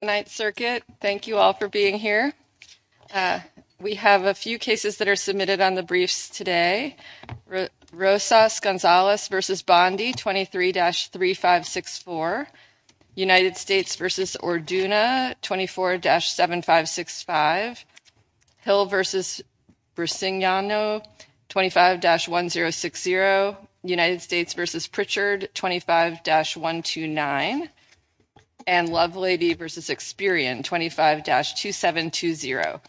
Night Circuit, thank you all for being here. We have a few cases that are submitted on the briefs today. Rosa Gonzalez v. Bondi, 23-3564. United States v. Orduna, 24-7565. Hill v. Bricegnano, 25-1060. United States v. Pritchard, 25-129. And Lovelady v. Experian, 25-2720.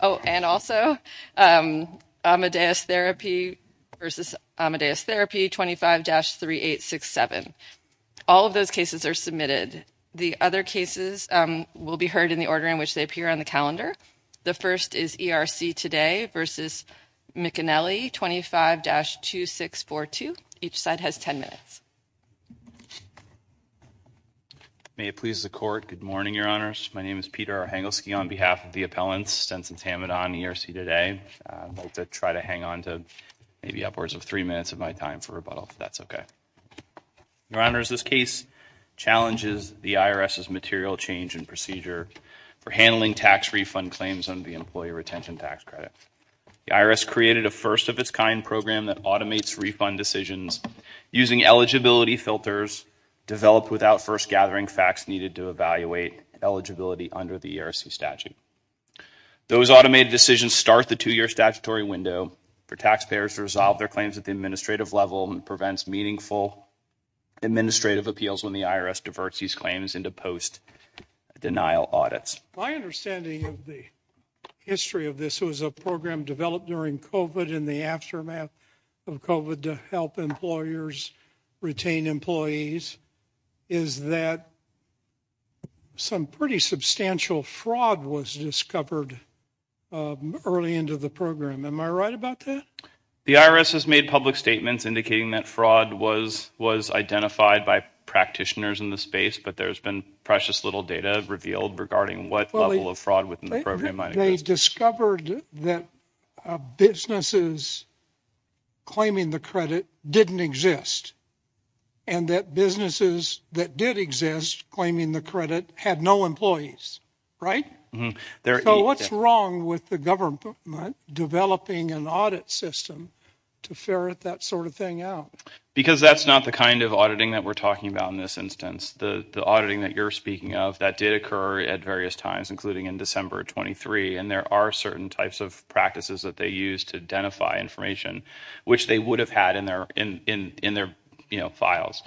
Oh, and also Amadeus Therapy v. Amadeus Therapy, 25-3867. All of those cases are submitted. The other cases will be heard in the order in which they appear on the calendar. The first is ERC Today v. McInelly, 25-2642. Each side has 10 minutes. May it please the court, good morning, Your Honors. My name is Peter Arhangelsky on behalf of the appellants, Stenson-Tamidon, ERC Today. I'd like to try to hang on to maybe upwards of three minutes of my time for rebuttal, if that's okay. Your Honors, this case challenges the IRS's material change in procedure for handling tax refund claims under the Employee Retention Tax Credit. The IRS created a first-of-its-kind program that automates refund decisions using eligibility filters developed without first gathering facts needed to evaluate eligibility under the ERC statute. Those automated decisions start the two-year statutory window for taxpayers to resolve their claims at the administrative level and prevents meaningful administrative appeals when the IRS diverts these claims into post-denial audits. My understanding of the history of this was a program developed during COVID in the aftermath of COVID to help employers retain employees is that some pretty substantial fraud was discovered early into the program. Am I right about that? The IRS has made public statements indicating that fraud was identified by practitioners in the space, but there's been precious little data revealed regarding what level of fraud within the program might exist. They discovered that businesses claiming the credit didn't exist and that businesses that did exist claiming the credit had no employees, right? So what's wrong with the government developing an audit system to ferret that sort of thing out? Because that's not the kind of auditing that we're talking about in this instance. The auditing that you're speaking of that did occur at various times, including in December of 23, and there are certain types of practices that they use to identify information which they would have had in their files.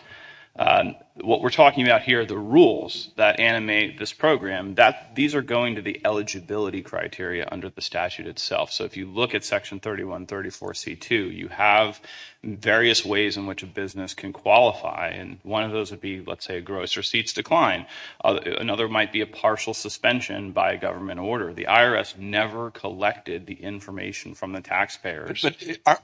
What we're talking about here are the rules that animate this program. These are going to the eligibility criteria under the statute itself. So if you look at Section 3134C2, you have various ways in which a business can qualify. One of those would be, let's say, gross receipts decline. Another might be a partial suspension by a government order. The IRS never collected the information from the taxpayers. But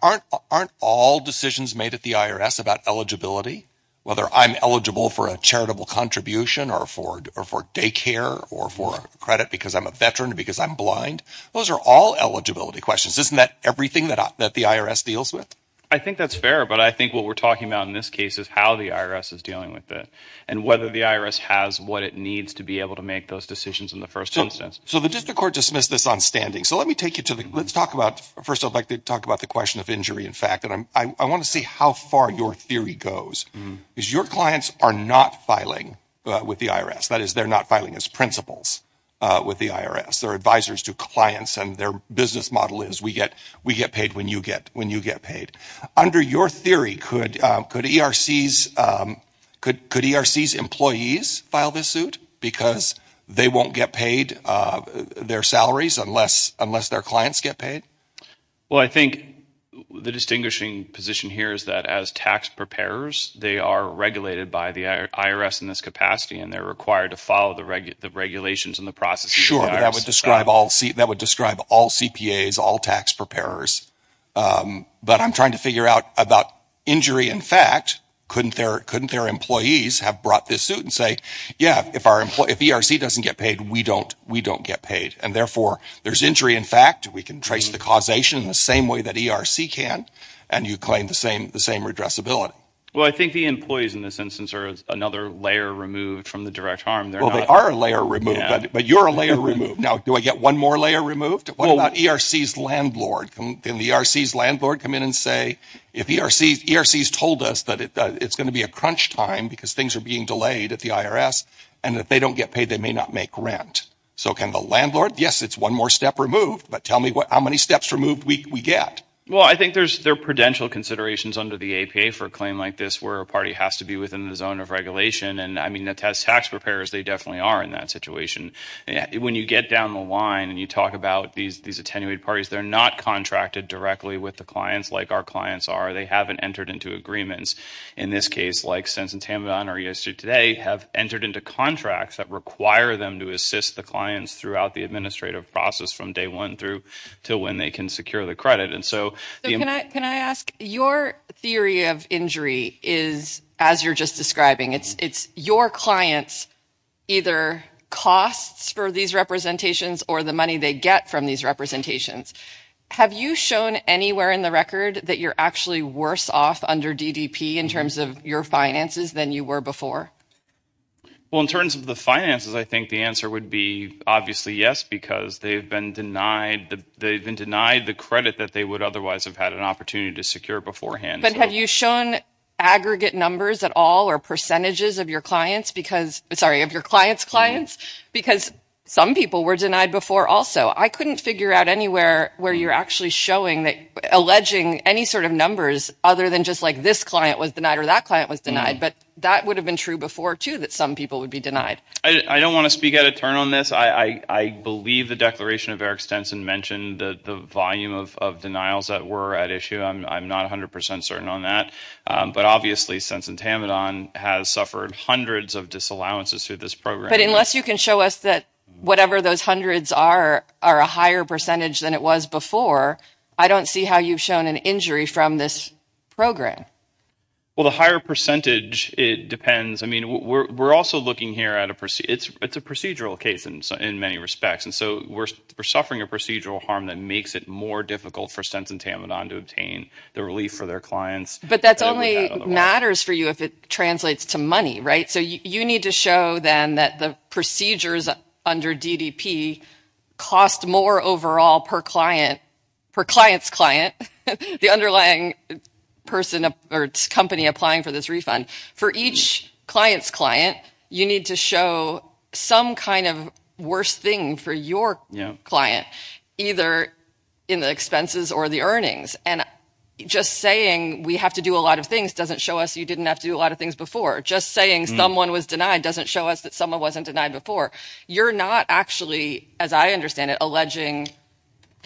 aren't all decisions made at the IRS about eligibility, whether I'm eligible for a charitable contribution or for daycare or for credit because I'm a veteran or because I'm blind? Those are all eligibility questions. Isn't that everything that the IRS deals with? I think that's fair, but I think what we're talking about in this case is how the IRS is dealing with it and whether the IRS has what it needs to be able to make those decisions in the first instance. So the district court dismissed this on standing. So let me take you to the, let's talk about, first, I'd like to talk about the question of injury, in fact, and I want to see how far your theory goes. Because your clients are not filing with the IRS. That is, they're not filing as principals with the IRS. They're advisors to clients, and their business model is we get paid when you get paid. Under your theory, could ERC's employees file this suit because they won't get paid their salaries unless their clients get paid? Well, I think the distinguishing position here is that as tax preparers, they are regulated by the IRS in this capacity, and they're required to follow the regulations and the processes. Sure, but that would describe all CPAs, all tax preparers. But I'm trying to figure out about injury, in fact, couldn't their employees have brought this suit and say, yeah, if ERC doesn't get paid, we don't get paid. And therefore, there's injury, in fact, we can trace the causation in the same way that ERC can, and you claim the same redressability. Well, I think the employees in this instance are another layer removed from the direct harm. Well, they are a layer removed, but you're a layer removed. Now, do I get one more layer removed? What about ERC's landlord? Can the ERC's landlord come in and say, if ERC's told us that it's going to be a crunch time because things are being delayed at the IRS, and if they don't get paid, they may not make rent. So can the landlord, yes, it's one more step removed, but tell me how many steps removed we get? Well, I think there are prudential considerations under the APA for a claim like this where a party has to be within the zone of regulation. And I mean, the tax preparers, they definitely are in that situation. When you get down the line and you talk about these attenuated parties, they're not contracted directly with the clients like our clients are. They haven't entered into agreements. In this case, like Sense and Tamadan or ESG Today have entered into contracts that require them to assist the clients throughout the administrative process from day one through to when they can secure the credit. So can I ask, your theory of injury is, as you're just describing, it's your clients' either costs for these representations or the money they get from these representations. Have you shown anywhere in the record that you're actually worse off under DDP in terms of your finances than you were before? Well, in terms of finances, I think the answer would be obviously yes, because they've been denied the credit that they would otherwise have had an opportunity to secure beforehand. But have you shown aggregate numbers at all or percentages of your clients because, sorry, of your clients' clients? Because some people were denied before also. I couldn't figure out anywhere where you're actually showing that, alleging any sort of numbers other than just like this client was denied or that people would be denied. I don't want to speak out of turn on this. I believe the declaration of Eric Stenson mentioned the volume of denials that were at issue. I'm not 100% certain on that. But obviously, Sense and Tamadan has suffered hundreds of disallowances through this program. But unless you can show us that whatever those hundreds are, are a higher percentage than it was before, I don't see how you've shown an injury from this program. Well, the higher percentage, I mean, we're also looking here at a, it's a procedural case in many respects. And so we're suffering a procedural harm that makes it more difficult for Sense and Tamadan to obtain the relief for their clients. But that only matters for you if it translates to money, right? So you need to show then that the procedures under DDP cost more overall per client, per client's client, the underlying person or company applying for this refund. For each client's client, you need to show some kind of worst thing for your client, either in the expenses or the earnings. And just saying we have to do a lot of things doesn't show us you didn't have to do a lot of things before. Just saying someone was denied doesn't show us that someone wasn't denied before. You're not actually, as I understand it, alleging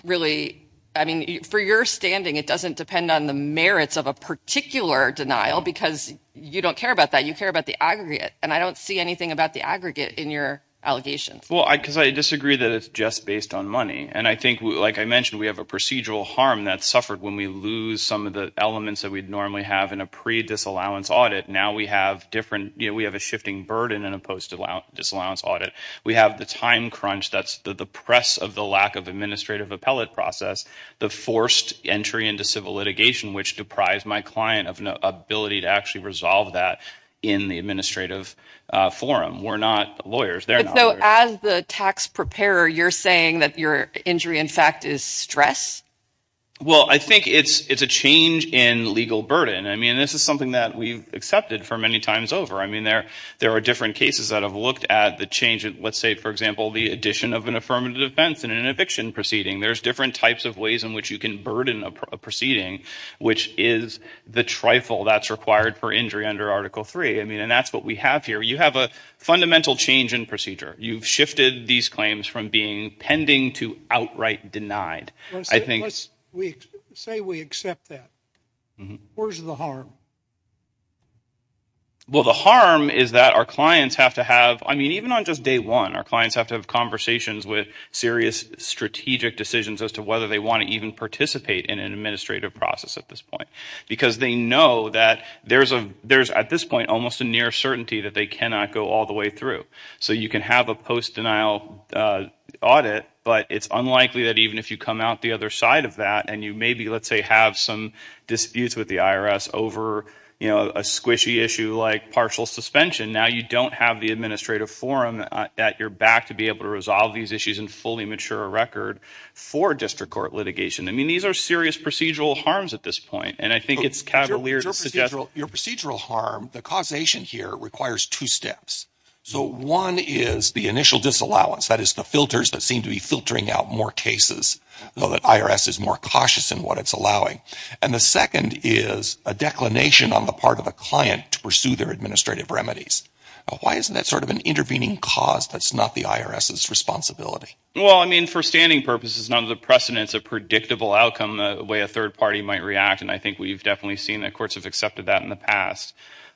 really, I mean, for your standing, it doesn't depend on the merits of a particular denial because you don't care about that. You care about the aggregate. And I don't see anything about the aggregate in your allegations. Well, because I disagree that it's just based on money. And I think, like I mentioned, we have a procedural harm that suffered when we lose some of the elements that we'd normally have in a pre-disallowance audit. Now we have different, you know, we have a shifting burden in a post-disallowance audit. We have the time crunch that's the press of the lack of administrative appellate process, the forced entry into civil litigation, which deprives my client of an ability to actually resolve that in the administrative forum. We're not lawyers. They're not lawyers. But so as the tax preparer, you're saying that your injury, in fact, is stress? Well, I think it's a change in legal burden. I mean, this is something that we've accepted for many times over. I mean, there are different cases that have looked at the change in, let's say, for example, the addition of an affirmative defense in an eviction proceeding. There's different types of ways in which you can burden a proceeding, which is the trifle that's required for injury under Article III. I mean, and that's what we have here. You have a fundamental change procedure. You've shifted these claims from being pending to outright denied. Say we accept that. Where's the harm? Well, the harm is that our clients have to have, I mean, even on just day one, our clients have to have conversations with serious strategic decisions as to whether they want to even participate in an administrative process at this point. Because they know that there's at this point almost a near certainty that they cannot go all the way through. So you can have a post-denial audit, but it's unlikely that even if you come out the other side of that and you maybe, let's say, have some disputes with the IRS over, you know, a squishy issue like partial suspension, now you don't have the administrative forum that you're back to be able to resolve these issues and fully mature a record for district court litigation. I mean, these are serious procedural harms at this point. And I think it's cavalier to suggest— Your procedural harm, the causation here requires two steps. So one is the initial disallowance, that is the filters that seem to be filtering out more cases, though the IRS is more cautious in what it's allowing. And the second is a declination on the part of a client to pursue their administrative remedies. Why isn't that sort of an intervening cause that's not the IRS's responsibility? Well, I mean, for standing purposes, none of the precedent's a predictable outcome, the way a third party might react. And I think we've definitely seen that courts have accepted that in the past.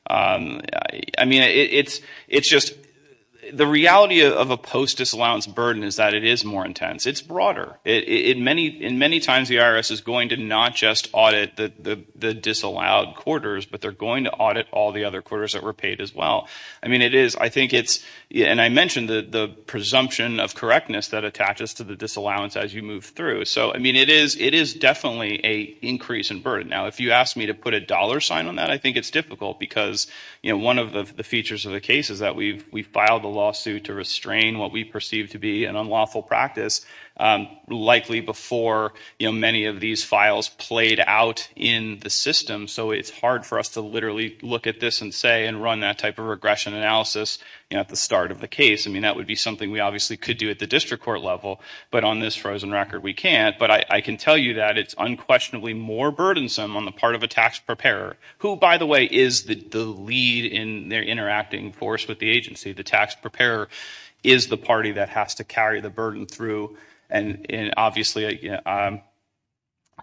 I mean, it's just—the reality of a post-disallowance burden is that it is more intense. It's broader. And many times the IRS is going to not just audit the disallowed quarters, but they're going to audit all the other quarters that were paid as well. I mean, it is—I think it's—and I mentioned the presumption of correctness that attaches to the disallowance as you move through. So, I mean, it is definitely an increase in burden. Now, if you ask me to put a dollar sign on that, I think it's difficult because, you know, one of the features of the case is that we've filed a lawsuit to restrain what we perceive to be an unlawful practice, likely before, you know, many of these files played out in the system. So it's hard for us to literally look at this and say and run that type of regression analysis, you know, at the start of the case. I mean, that would be something we obviously could do at the district court level. But on this frozen record, we can't. But I can tell you that it's unquestionably more burdensome on the part of a tax preparer, who, by the way, is the lead in their interacting force with the agency. The tax preparer is the party that has to carry the burden through. And obviously, you know, I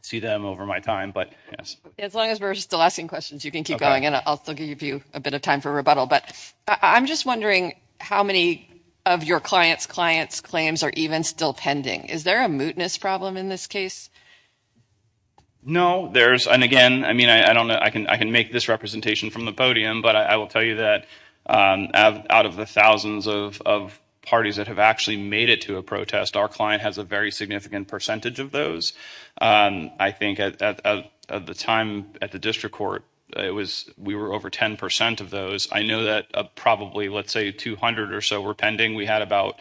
see them over my time, but yes. As long as we're still asking questions, you can keep going and I'll give you a bit of time for rebuttal. But I'm just wondering how many of your clients' clients' claims are even still pending? Is there a mootness problem in this case? No, there's and again, I mean, I don't know, I can I can make this representation from the podium. But I will tell you that out of the thousands of parties that have actually made it to a protest, our client has a very significant percentage of those. I think at the time at the district court, it was we were over 10% of those. I know that probably, let's say 200 or so were pending. We had about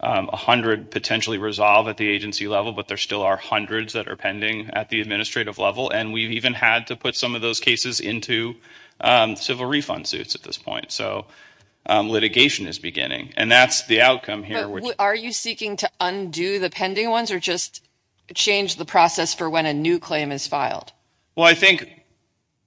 100 potentially resolve at the agency level, but there still are hundreds that are pending at the administrative level. And we've even had to put some of those cases into civil refund suits at this point. So litigation is beginning and that's the outcome here. Are you seeking to undo the pending ones or just change the process for when a new claim is filed? Well, I think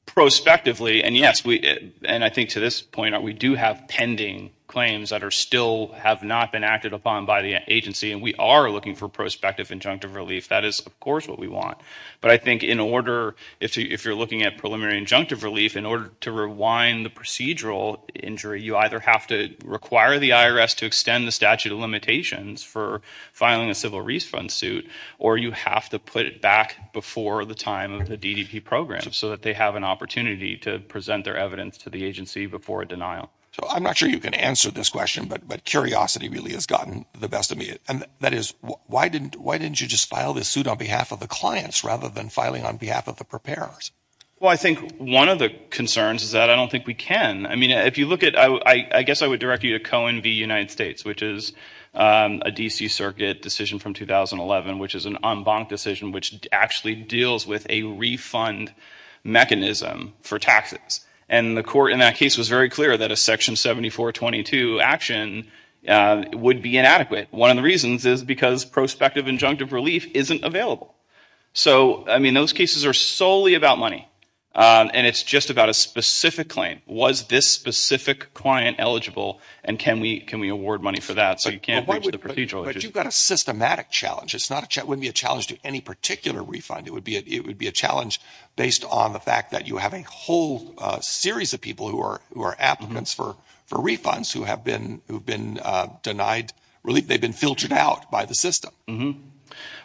prospectively and yes, and I think to this point, we do have pending claims that are still have not been acted upon by the agency. And we are looking for prospective injunctive relief. That is, of course, what we want. But I think in order, if you're looking at preliminary injunctive relief, in order to rewind the procedural injury, you either have to require the IRS to extend the statute of limitations for filing a civil refund suit or you have to put it back before the time of the DDP program so that they have an opportunity to present their evidence to the agency before a denial. So I'm not sure you can answer this question, but curiosity really has gotten the best of me. And that is, why didn't you just file this suit on behalf of the clients rather than filing on behalf of the preparers? Well, I think one of the concerns is that I don't think we can. I mean, if you look at I guess I would direct you to Cohen v. United States, which is a D.C. Circuit decision from 2011, which is an en banc decision, which actually deals with a refund mechanism for taxes. And the court in that case was very clear that a Section 7422 action would be inadequate. One of the reasons is because prospective injunctive relief isn't available. So I mean, those cases are solely about money. And it's just about a specific claim. Was this specific client eligible? And can we can we award money for that? So you can't But you've got a systematic challenge. It's not a challenge to any particular refund. It would be it would be a challenge based on the fact that you have a whole series of people who are who are applicants for for refunds who have been who've been denied relief. They've been filtered out by the system.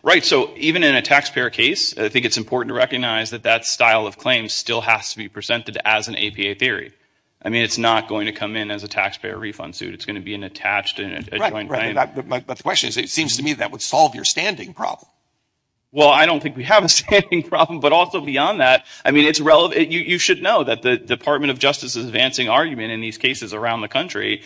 Right. So even in a taxpayer case, I think it's important to recognize that that style of claim still has to be presented as an APA theory. I mean, it's not going to come in as a taxpayer refund suit. It's going to be an attached and joint claim. But the question is, it seems to me that would solve your standing problem. Well, I don't think we have a standing problem. But also beyond that, I mean, it's relevant. You should know that the Department of Justice is advancing argument in these cases around the country,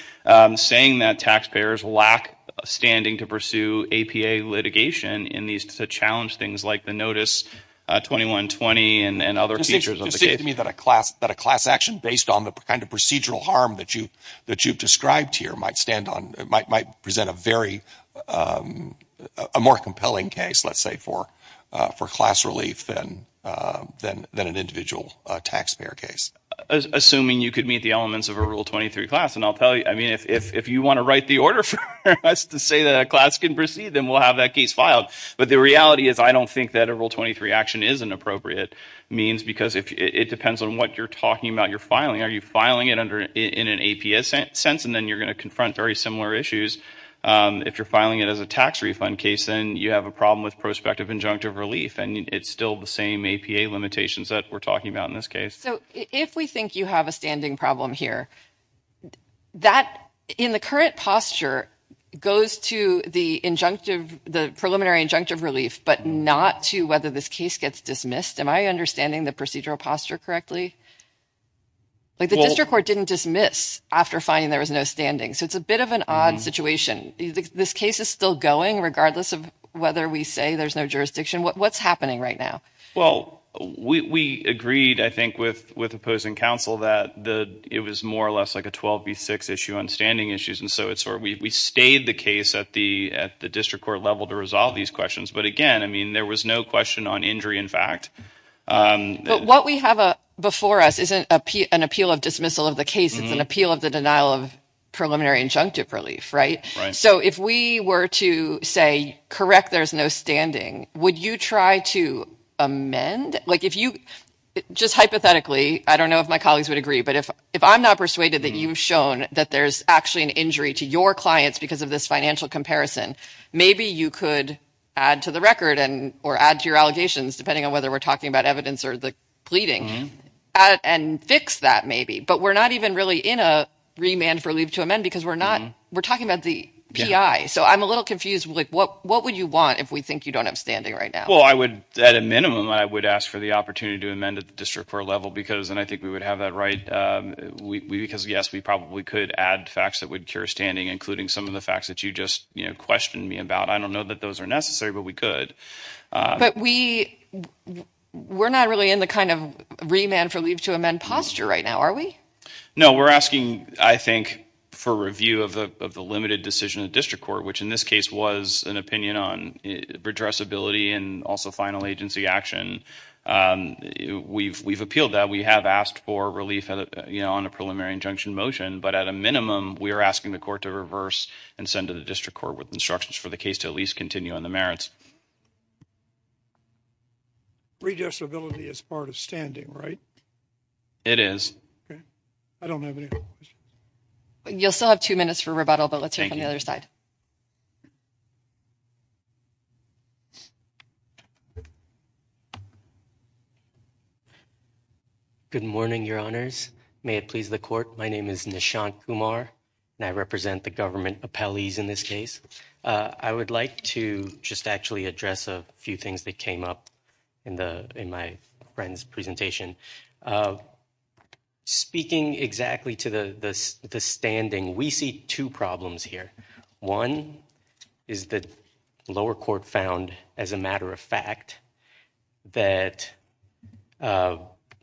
saying that taxpayers lack standing to pursue APA litigation in these to challenge things like the Notice 21-20 and other features of the case. So it seems to me that a class that a class action based on the kind of procedural harm that you that you've described here might stand on might might present a very more compelling case, let's say, for for class relief than than than an individual taxpayer case. Assuming you could meet the elements of a Rule 23 class. And I'll tell you, I mean, if you want to write the order for us to say that a class can proceed, then we'll have that case filed. But the reality is, I don't think that a Rule 23 action is an appropriate means because if it depends on what you're talking about, you're filing, are you filing it under in an APA sense, and then you're going to confront very similar issues. If you're filing it as a tax refund case, then you have a problem with prospective injunctive relief. And it's still the same APA limitations that we're talking about in this case. So if we think you have a standing problem here, that in the current posture goes to the injunctive, the preliminary injunctive relief, but not to whether this case gets dismissed. Am I understanding the procedural posture correctly? Like the district court didn't dismiss after finding there was no standing. So it's a bit of an odd situation. This case is still going regardless of whether we say there's no jurisdiction. What's happening right now? Well, we agreed, I think, with with opposing counsel that the it was more or less like a 12 v. 6 issue on standing issues. And so it's where we stayed the case at the at the district court level to resolve these questions. But again, I mean, there was no question on injury, in fact. But what we have before us isn't an appeal of dismissal of the case. It's an appeal of the denial of preliminary injunctive relief. Right. So if we were to say, correct, there's no standing, would you try to amend like if you just hypothetically, I don't know if my colleagues would agree, but if if I'm not persuaded that you've shown that there's actually an injury to your clients because of this financial comparison, maybe you could add to the record and or add to your allegations, depending on whether we're talking about evidence or the pleading and fix that maybe. But we're not even really in a remand for leave to amend because we're not we're talking about the P.I. So I'm a little confused. Like what what would you want if we think you don't have standing right now? Well, I would at a minimum, I would ask for the opportunity to amend at the district court level because and I think we would have that right. We because, yes, we probably could add facts that would cure standing, including some of the facts that you just questioned me about. I don't know that those are necessary, but we could. But we we're not really in the kind of remand for leave to amend posture right now, are we? No, we're asking, I think, for review of the of the limited decision of district court, which in this case was an opinion on addressability and also final agency action. We've we've appealed that we have asked for relief on a preliminary injunction motion. But at a minimum, we are asking the court to reverse and send to the district court with instructions for the case to at least continue on the merits. Redressability is part of standing, right? It is. I don't have any. You'll still have two minutes for rebuttal, but let's hear from the other side. Good morning, your honors. May it please the court. My name is Nishant Kumar and I represent the government appellees in this case. I would like to just actually address a few things that came up in the in my friend's presentation. Speaking exactly to the standing, we see two problems here. One is that the lower court found, as a matter of fact, that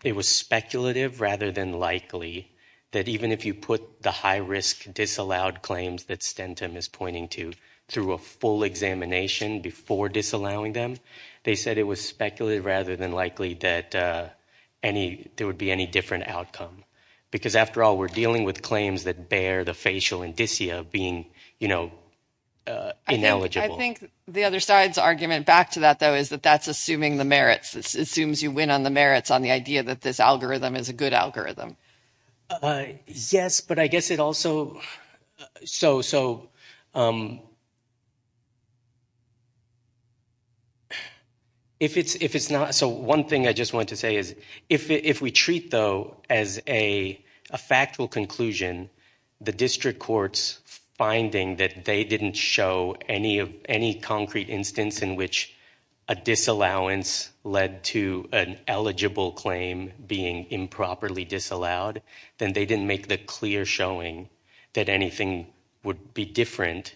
it was speculative rather than likely that even if you put the high risk disallowed claims that Stentum is pointing to through a full examination before disallowing them, they said it was speculative rather than likely that any there would be any different outcome. Because after all, we're dealing with claims that bear the facial indicia being, you know, ineligible. I think the other side's argument back to that, though, is that that's assuming the merits. It assumes you win on the merits on the idea that this algorithm is a good algorithm. Yes, but I guess it also, so if it's not, so one thing I just want to say is if we treat, though, as a factual conclusion, the district court's finding that they didn't show any of any concrete instance in which a disallowance led to an eligible claim being improperly disallowed, then they didn't make the clear showing that anything would be different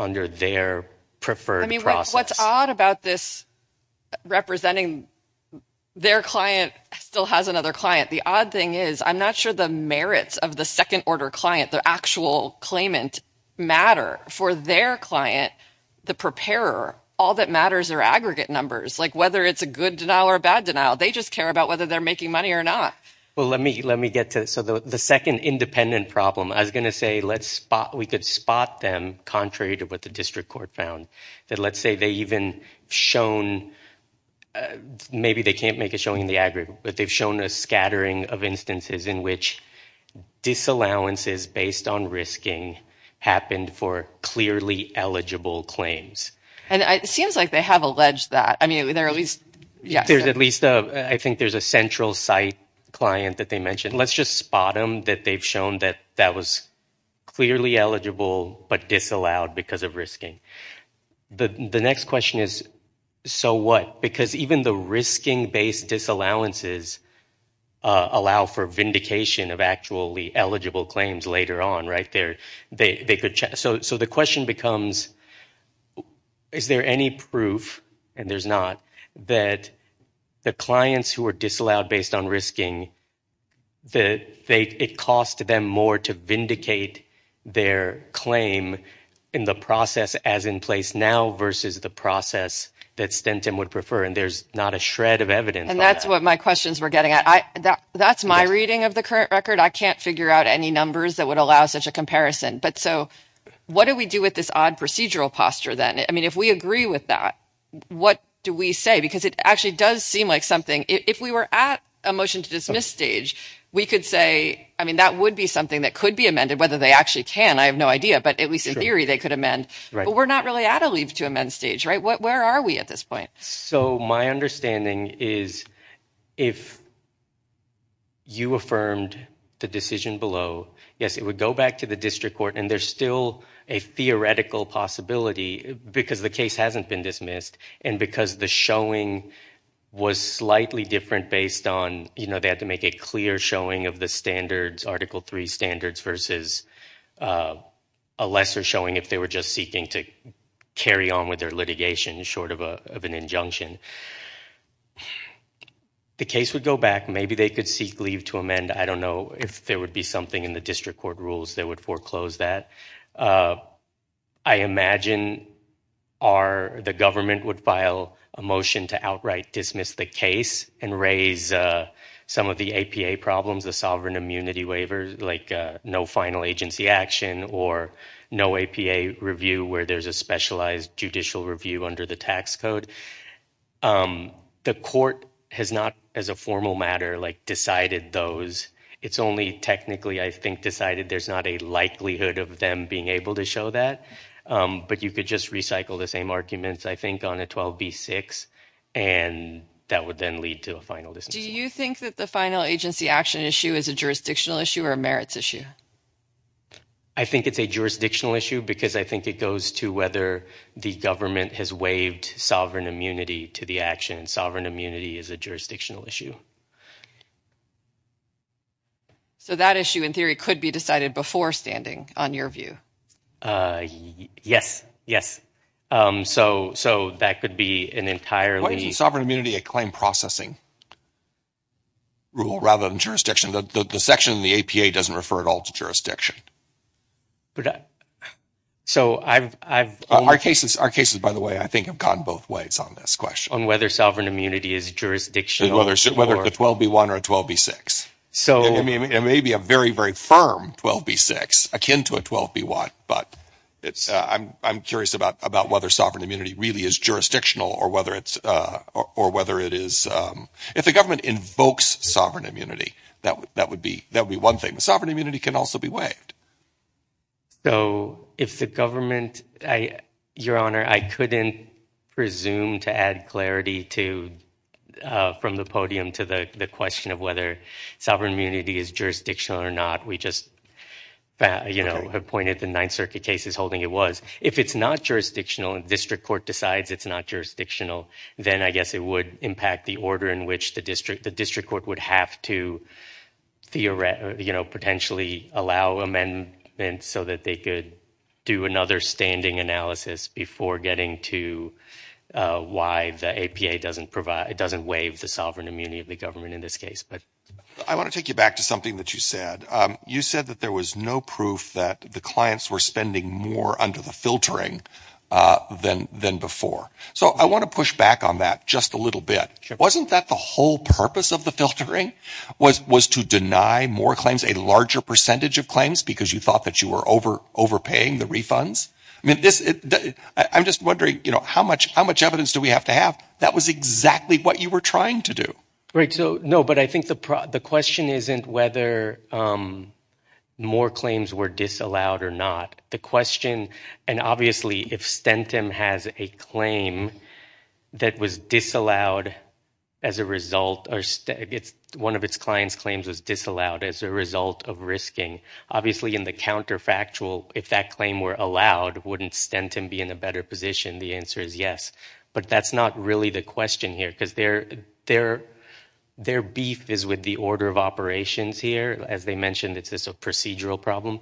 under their preferred process. I mean, what's odd about this representing their client still has another client? The odd thing is I'm not sure the merits of the second order client, the actual claimant, matter. For their client, the preparer, all that matters are aggregate numbers, like whether it's a good denial or a bad denial. They just care about whether they're making money or not. Well, let me get to, so the second independent problem, I was going to say let's spot, we could spot them contrary to what the district court found, that let's say they even shown, maybe they can't make a showing in the aggregate, but they've shown a scattering of instances in which disallowances based on risking happened for clearly eligible claims. And it seems like they have alleged that. I mean, there's at least, I think there's a central site client that they mentioned. Let's just spot them that they've shown that that was clearly eligible but disallowed because of risking. The next question is, so what? Because even the risking-based disallowances allow for vindication of actually eligible claims later on, right? So the question becomes, is there any proof, and there's not, that the clients who are disallowed based on risking, it cost them more to vindicate their claim in the process as in place now versus the process that Stentim would prefer, and there's not a shred of evidence. And that's what my questions were getting at. That's my reading of the current record. I can't figure out any numbers that would allow such a comparison. But so what do we do with this odd procedural posture then? I mean, if we agree with that, what do we say? Because it actually does seem like something, if we were at a motion to dismiss stage, we could say, I mean, that would be something that could be amended, whether they actually can, I have no idea, but at least in theory they could amend. But we're not really at a leave to amend stage, right? Where are we at this point? So my understanding is, if you affirmed the decision below, yes, it would go back to the district court, and there's still a theoretical possibility because the case hasn't been dismissed, and because the showing was slightly different based on, you know, they had to make a clear showing of the standards, Article III standards versus a lesser showing if they were just seeking to carry on with their litigation short of an injunction. The case would go back. Maybe they could seek leave to amend. I don't know if there would be something in the district court rules that would foreclose that. I imagine the government would file a motion to outright dismiss the case and raise some of the APA problems, the sovereign immunity waivers, like no final agency action or no APA review where there's a specialized judicial review under the tax code. The court has not, as a formal matter, like, decided those. It's only technically, I think, decided. There's not a likelihood of them being able to show that, but you could just recycle the same arguments, I think, on a 12b-6, and that would then lead to a final dismissal. Do you think that the final agency action issue is a jurisdictional issue or a merits issue? I think it's a jurisdictional issue because I think it goes to whether the government has waived sovereign immunity to the action. Sovereign immunity is a jurisdictional issue. So that issue, in theory, could be decided before standing, on your view. Yes, yes. So that could be an entirely... Why isn't sovereign immunity a claim processing rule rather than jurisdiction? The section in the APA doesn't refer at all to jurisdiction. Our cases, by the way, I think have gone both ways on this question. On whether sovereign immunity is jurisdictional... Whether it's a 12b-1 or a 12b-6. It may be a very, very firm 12b-6, akin to a 12b-1, but I'm curious about whether sovereign immunity really is jurisdictional or whether it's... If the government invokes sovereign immunity, that would be one thing. Sovereign immunity can also be waived. So if the government... Your Honor, I couldn't presume to add clarity from the podium to the question of whether sovereign immunity is jurisdictional or not. We just have pointed to the Ninth Circuit cases holding it was. If it's not jurisdictional and district court decides it's not jurisdictional, then I guess it would impact the order in which the district court would have to potentially allow amendments so that they could do another standing analysis before getting to why the APA doesn't waive the sovereign immunity of the government in this case. I want to take you back to something that you said. You said that there was no proof that the clients were spending more under the filtering than before. So I want to push back on that just a little bit. Wasn't that the whole purpose of the filtering was to deny more claims, a larger percentage of claims, because you thought that you were overpaying the refunds? I'm just wondering, how much evidence do we have to have that was exactly what you were trying to do? Right. No, but I think the question isn't whether more claims were disallowed or not. The question... And obviously, if Stentum has a claim that was disallowed as a result... One of its clients' claims was disallowed as a result of risking, obviously in the counterfactual, if that claim were allowed, wouldn't Stentum be in a better position? The answer is yes. But that's not really the question here, because their beef is with the order of operations here. As they mentioned, it's just a procedural problem.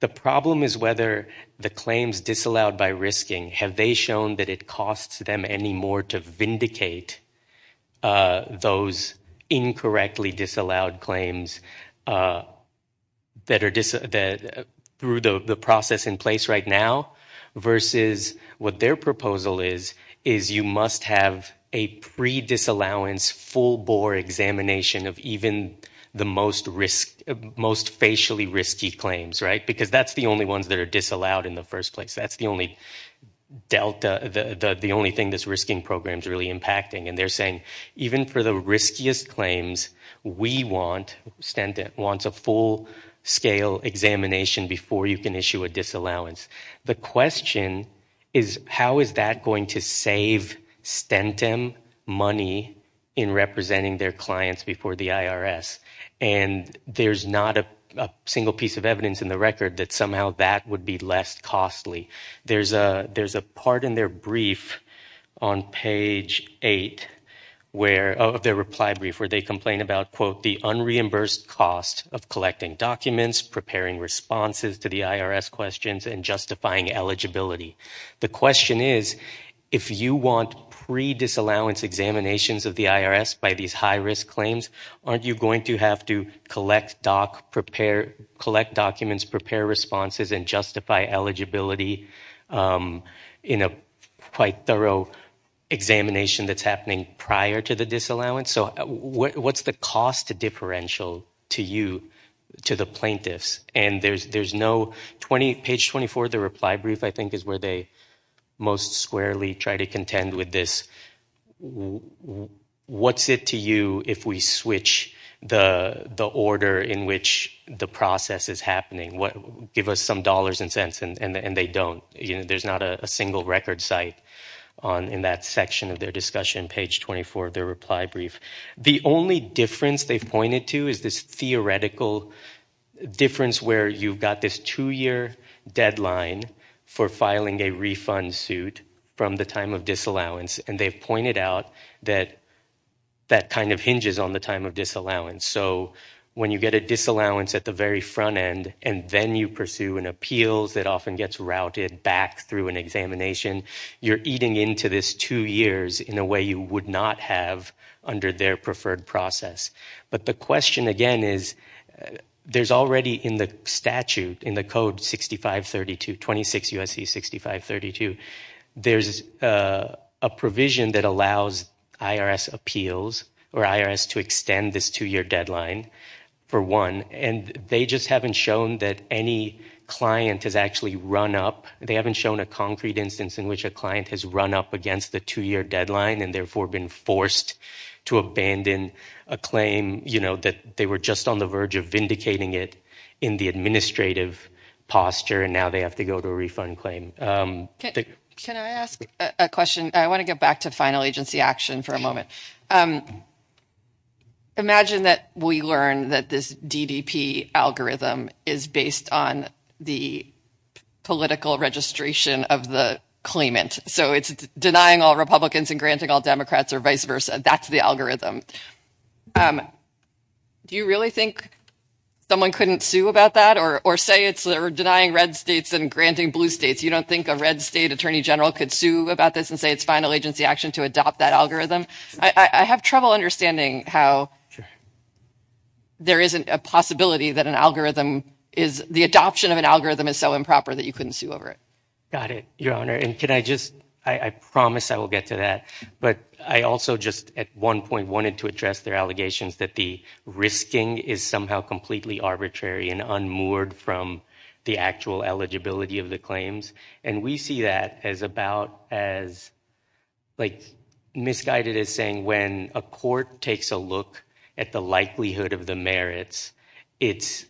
The problem is whether the claims disallowed by risking, have they shown that it costs them any more to vindicate those incorrectly disallowed claims that are through the process in place right now, versus what their proposal is, is you must have a pre-disallowance full-bore examination of even the most facially risky claims, right? Because that's the only ones that are disallowed in the first place. That's the only thing this risking program's really impacting. And they're saying, even for the riskiest claims, we want a full-scale examination before you can issue a disallowance. The question is, how is that going to save Stentum money in representing their clients before the IRS? And there's not a single piece of evidence in the record that somehow that would be less costly. There's a part in their brief on page 8 of their reply brief where they complain about, quote, the unreimbursed cost of collecting documents, preparing responses to the IRS questions, and justifying eligibility. The question is, if you want pre-disallowance examinations of the IRS by these high-risk claims, aren't you going to have to collect documents, prepare responses, and justify eligibility in a quite thorough examination that's happening prior to the disallowance? So what's the cost differential to you, to know, page 24 of their reply brief, I think, is where they most squarely try to contend with this. What's it to you if we switch the order in which the process is happening? Give us some dollars and cents, and they don't. There's not a single record site in that section of their discussion, page 24 of their reply brief. The only difference they've pointed to is this theoretical difference where you've got this two-year deadline for filing a refund suit from the time of disallowance, and they've pointed out that that kind of hinges on the time of disallowance. So when you get a disallowance at the very front end, and then you pursue an appeals that often gets routed back through an examination, you're eating into this two years in a way you would not have under their preferred process. But the question again is, there's already in the statute, in the code 6532, 26 U.S.C. 6532, there's a provision that allows IRS appeals, or IRS to extend this two-year deadline, for one, and they just haven't shown that any client has actually run up, they haven't shown a concrete instance in which a client has run up against the two-year deadline, and therefore been forced to abandon a claim, you know, that they were just on the verge of vindicating it in the administrative posture, and now they have to go to a refund claim. Can I ask a question? I want to get back to final agency action for a moment. Imagine that we learn that this DDP algorithm is based on the political registration of the claimant. So it's denying all Republicans and granting all Democrats, or vice versa. That's the algorithm. Do you really think someone couldn't sue about that, or say it's denying red states and granting blue states? You don't think a red state attorney general could sue about this and say it's final agency action to adopt that algorithm? I have trouble understanding how there isn't a possibility that an algorithm is, the adoption of an algorithm is so improper that you couldn't sue over it. Got it, Your Honor. And can I just, I promise I will get to that, but I also just at one point wanted to address their allegations that the risking is somehow completely arbitrary and unmoored from the actual eligibility of the claims. And we see that as about as, like, misguided as saying when a court takes a look at the likelihood of the merits, it's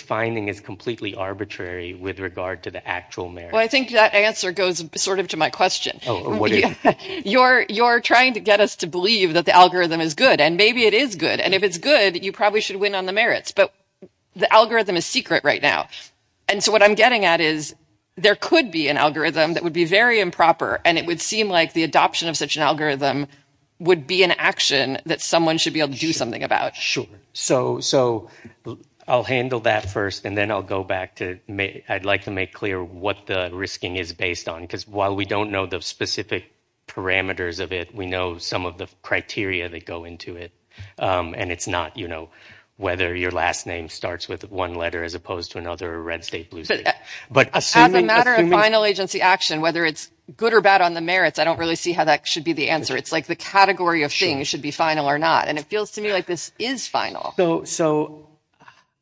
finding it's completely arbitrary with regard to the actual merits. Well, I think that answer goes sort of to my question. You're trying to get us to believe that the algorithm is good, and maybe it is good. And if it's good, you probably should win on the merits. But the algorithm is secret right now. And so what I'm getting at is there could be an algorithm that would be very improper, and it would seem like the adoption of such an algorithm would be an action that someone should be able to do something about. Sure. So I'll handle that first, and then I'll go back to, I'd like to make clear what the risking is based on. Because while we don't know the specific parameters of it, we know some of the criteria that go into it. And it's not, you know, whether your last name starts with one letter as opposed to another, red state, blue state. As a matter of final agency action, whether it's good or bad on the merits, I don't really see how that should be the answer. It's like the category of things should be final or not. And it feels to me like this is final. So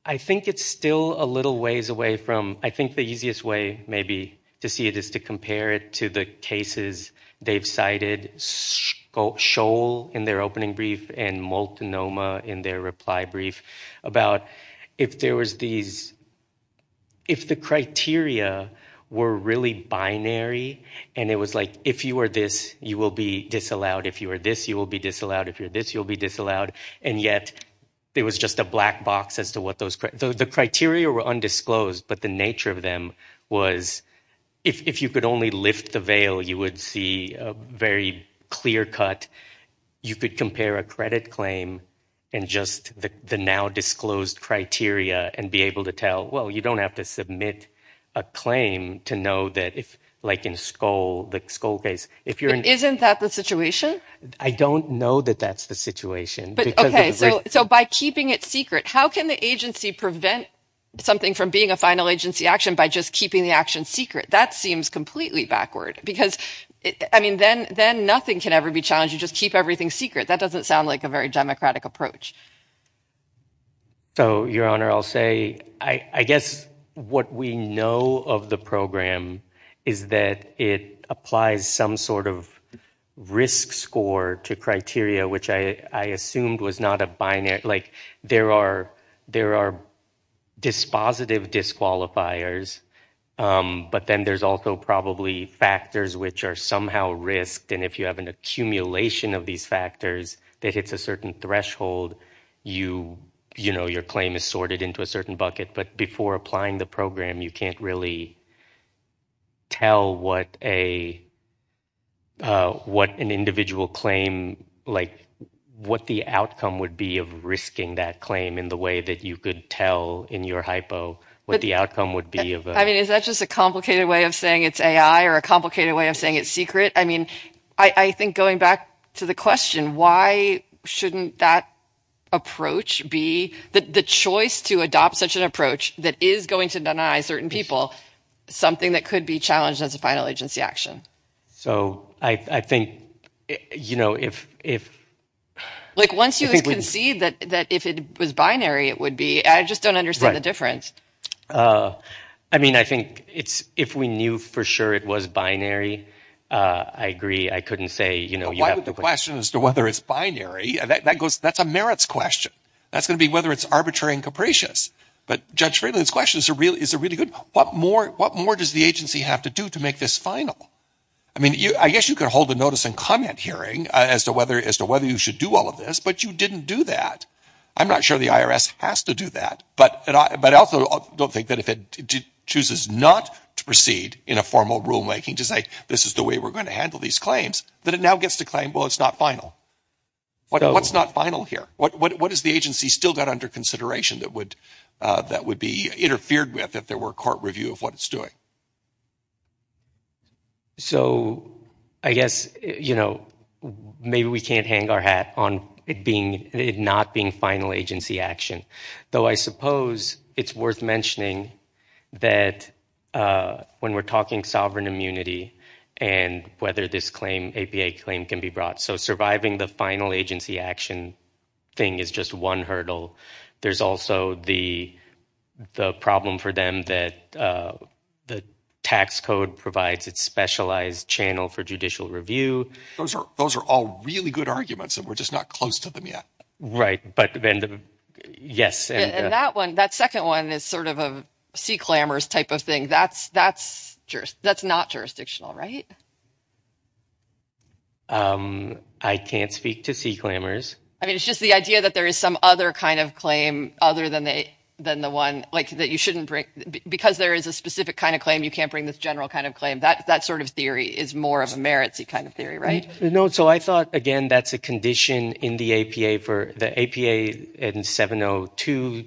I think it's still a little ways away from, I think the easiest way maybe to see it is to compare it to the cases they've cited, Scholl in their opening brief, and Multnomah in their reply brief, about if there was these, if the criteria were really binary, and it was like, if you are this, you will be disallowed. If you are this, you will be disallowed. If you are this, you will be disallowed. And yet, there was just a black box as to what those, the criteria were undisclosed, but the nature of them was, if you could only lift the veil, you would see a very clear cut. You could compare a credit claim and just the now disclosed criteria and be able to tell, well, you don't have to submit a claim to know that if, like in Scholl, the Scholl case, if you're in... Isn't that the situation? I don't know that that's the situation. But okay, so by keeping it secret, how can the agency prevent something from being a final agency action by just keeping the action secret? That seems completely backward, because I mean, then nothing can ever be challenged. You just keep everything secret. That doesn't sound like a very democratic approach. So Your Honor, I'll say, I guess what we know of the program is that it applies some sort of risk score to criteria, which I assumed was not a binary. Like, there are dispositive disqualifiers, but then there's also probably factors which are somehow risked. And if you have an accumulation of these factors that hits a certain threshold, you know, your claim is sorted into a certain bucket. But before applying the program, you can't really tell what an individual claim, like, what the outcome would be of risking that claim in the way that you could tell in your hypo, what the outcome would be. I mean, is that just a complicated way of saying it's AI or a complicated way of saying it's secret? I mean, I think going back to the question, why shouldn't that approach be the choice to adopt such an approach that is going to deny certain people something that could be challenged as a final agency action? So I think, you know, if, if, like, once you concede that, that if it was binary, it would be, I just don't understand the difference. I mean, I think it's, if we knew for sure it was binary, I agree. I couldn't say, you know, you have to question as to whether it's binary. That goes, that's a merits question. That's going to be whether it's arbitrary and capricious. But Judge Friedland's questions are really, is a really good, what more, what more does the agency have to do to make this final? I mean, you, I guess you could hold a notice and comment hearing as to whether, as to whether you should do all of this, but you didn't do that. I'm not sure the IRS has to do that, but, but I also don't think that if it chooses not to proceed in a formal rulemaking to say, this is the way we're going to handle these claims, that it now gets to claim, well, it's not final. What, what's not final here? What, what, what does the agency still got under consideration that would, that would be interfered with if there were court review of what it's doing? So I guess, you know, maybe we can't hang our hat on it being, it not being final agency action, though I suppose it's worth mentioning that when we're talking sovereign immunity and whether this claim, APA claim can be brought. So surviving the final agency action thing is just one hurdle. There's also the, the problem for them that the tax code provides its specialized channel for judicial review. Those are, those are all really good arguments and we're just not close to them yet. Right. But then the, yes. And that one, that second one is sort of a sea clamors type of thing. That's, that's, that's not jurisdictional, right? I can't speak to sea clamors. I mean, it's just the idea that there is some other kind of claim other than the, than the one like that you shouldn't bring, because there is a specific kind of claim, you can't bring this general kind of claim. That, that sort of theory is more of a merits-y kind of theory, right? No. So I thought, again, that's a condition in the APA for the APA and 702,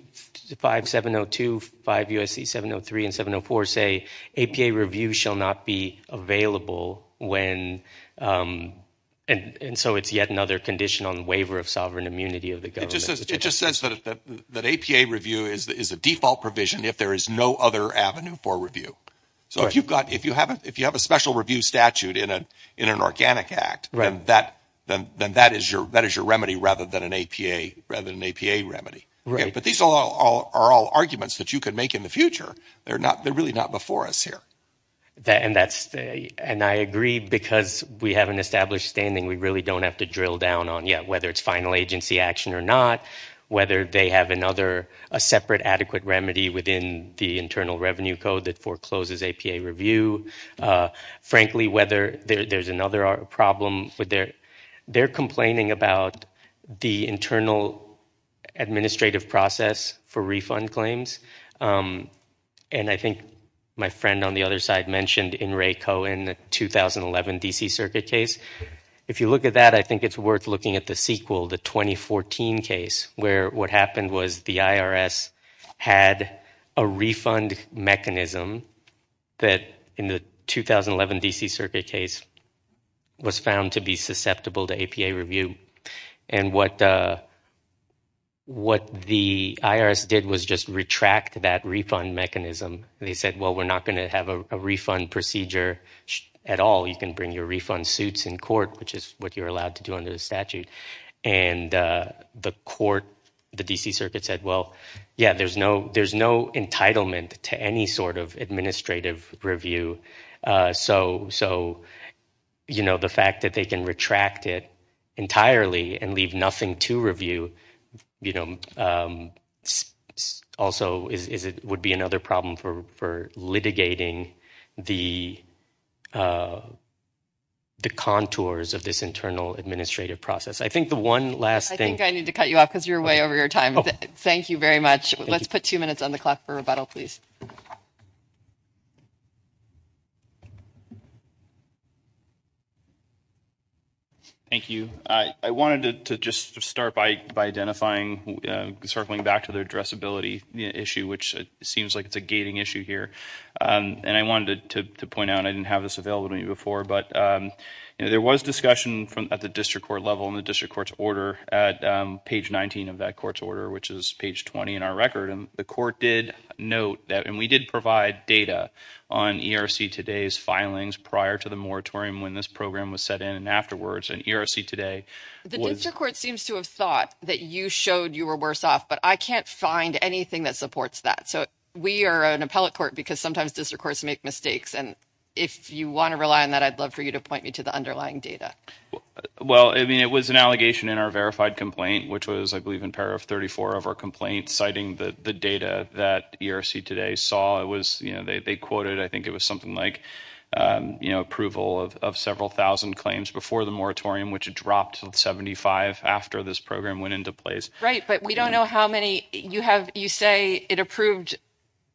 5702, 5 U.S.C. 703 and 704 say APA review shall not be available when, um, and, and so it's yet another condition on the waiver of sovereign immunity of the government. It just says, it just says that, that, that APA review is, is a default provision if there is no other avenue for review. So if you've got, if you have a, if you have a special review statute in a, in an organic act, then that, then, then that is your, that is your remedy rather than an APA, rather than an APA remedy. Right. But these are all, are all arguments that you could make in the future. They're not, they're really not before us here. And that's, and I agree because we have an established standing. We really don't have to drill down on yet whether it's final agency action or not, whether they have another, a separate adequate remedy within the internal revenue code that forecloses APA review. Frankly, whether there, there's another problem with their, they're complaining about the internal administrative process for refund claims. Um, and I think my friend on the other side mentioned in Ray Cohen, the 2011 DC circuit case. If you look at that, I think it's worth looking at the sequel, the 2014 case where what happened was the IRS had a refund mechanism that in the 2011 DC circuit case was found to be susceptible to APA review. And what, what the IRS did was just retract that refund mechanism. They said, well, we're not going to have a refund procedure at all. You can bring your refund suits in court, which is what you're allowed to do under the statute. And, uh, the court, the DC circuit said, well, yeah, there's no, there's no entitlement to any sort of administrative review. Uh, so, so you know, the fact that they can retract it entirely and leave nothing to review, you know, um, also is, is it would be another problem for, for litigating the, uh, the contours of this internal administrative process. I think the one last thing I need to cut you off because you're way over your time. Thank you very much. Let's put two minutes on the clock for rebuttal, please. Thank you. I, I wanted to just start by, by identifying, uh, circling back to their addressability issue, which seems like it's a gating issue here. Um, and I wanted to point out, I didn't have this available to me before, but, um, you know, there was discussion from at the district court level and the district court's order at, um, page 19 of that court's order, which is page 20 in our record. And the court did note that, and we did provide data on ERC today's filings prior to the moratorium when this program was set in and afterwards and ERC today. The district court seems to have thought that you showed you were worse off, but I can't find anything that supports that. So we are an appellate court because sometimes district courts make mistakes. And if you want to rely on that, I'd love for you to point me to the underlying data. Well, I mean, it was an allegation in our verified complaint, which was, I believe, in pair of 34 of our complaints citing the, the data that ERC today saw it was, you know, they, they quoted, I think it was something like, um, you know, approval of, of several thousand claims before the moratorium, which dropped 75 after this program went into place. Right. But we don't know how many you have, you say it approved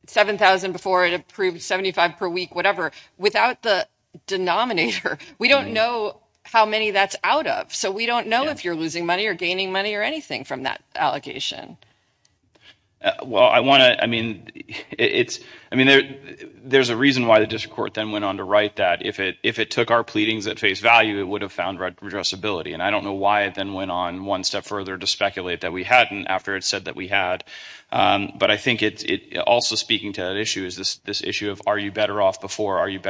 7,000 before it approved 75 per week, whatever, without the denominator, we don't know how many that's out of. So we don't know if you're losing money or gaining money or anything from that allocation. Well, I want to, I mean, it's, I mean, there, there's a reason why the district court then went on to write that if it, if it took our pleadings at face value, it would have found redressability. And I don't know why it then went on one step further to speculate that we hadn't after it said that we had. Um, but I think it's, it also speaking to that issue is this, this issue of, are you better off before? Are you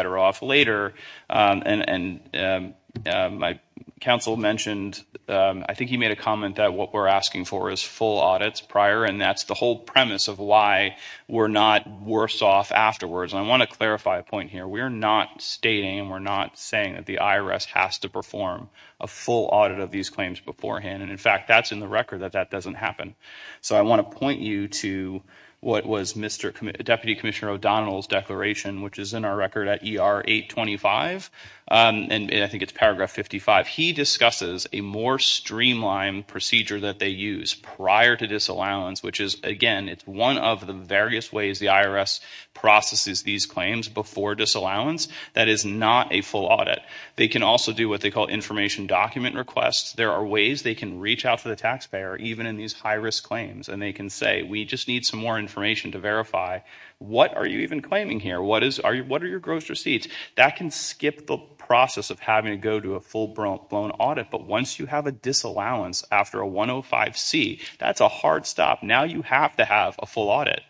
My counsel mentioned, um, I think he made a comment that what we're asking for is full audits prior. And that's the whole premise of why we're not worse off afterwards. And I want to clarify a point here. We're not stating, we're not saying that the IRS has to perform a full audit of these claims beforehand. And in fact, that's in the record that that doesn't happen. So I want to point you to what was Mr. Deputy Commissioner O'Donnell's declaration, which is in our record at ER 825. Um, and I think it's paragraph 55. He discusses a more streamlined procedure that they use prior to disallowance, which is again, it's one of the various ways the IRS processes these claims before disallowance that is not a full audit. They can also do what they call information document requests. There are ways they can reach out to the taxpayer, even in these high risk claims. And they can say, we just need some more information to verify. What are you even claiming here? What is, what are your gross receipts? That can skip the process of having to go to a full blown audit. But once you have a disallowance after a 105C, that's a hard stop. Now you have to have a full audit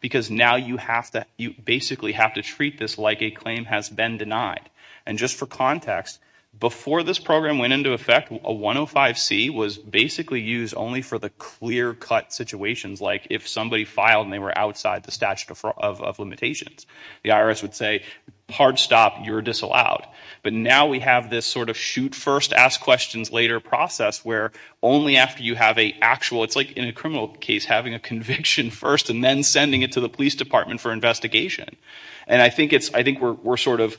because now you have to, you basically have to treat this like a claim has been denied. And just for context, before this program went into effect, a 105C was basically used only for the clear cut situations. Like if somebody filed and they were outside the statute of limitations, the IRS would say, hard stop, you're disallowed. But now we have this sort of shoot first, ask questions later process where only after you have a actual, it's like in a criminal case, having a conviction first and then sending it to the police department for investigation. And I think it's, I think we're, we're sort of,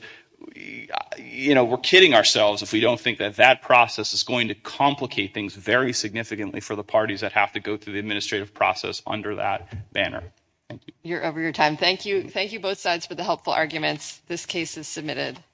you know, we're kidding ourselves if we don't think that that process is going to complicate things very significantly for the parties that have to go through the administrative process under that banner. Thank you. You're over your time. Thank you. Thank you both sides for the helpful arguments. This case is submitted.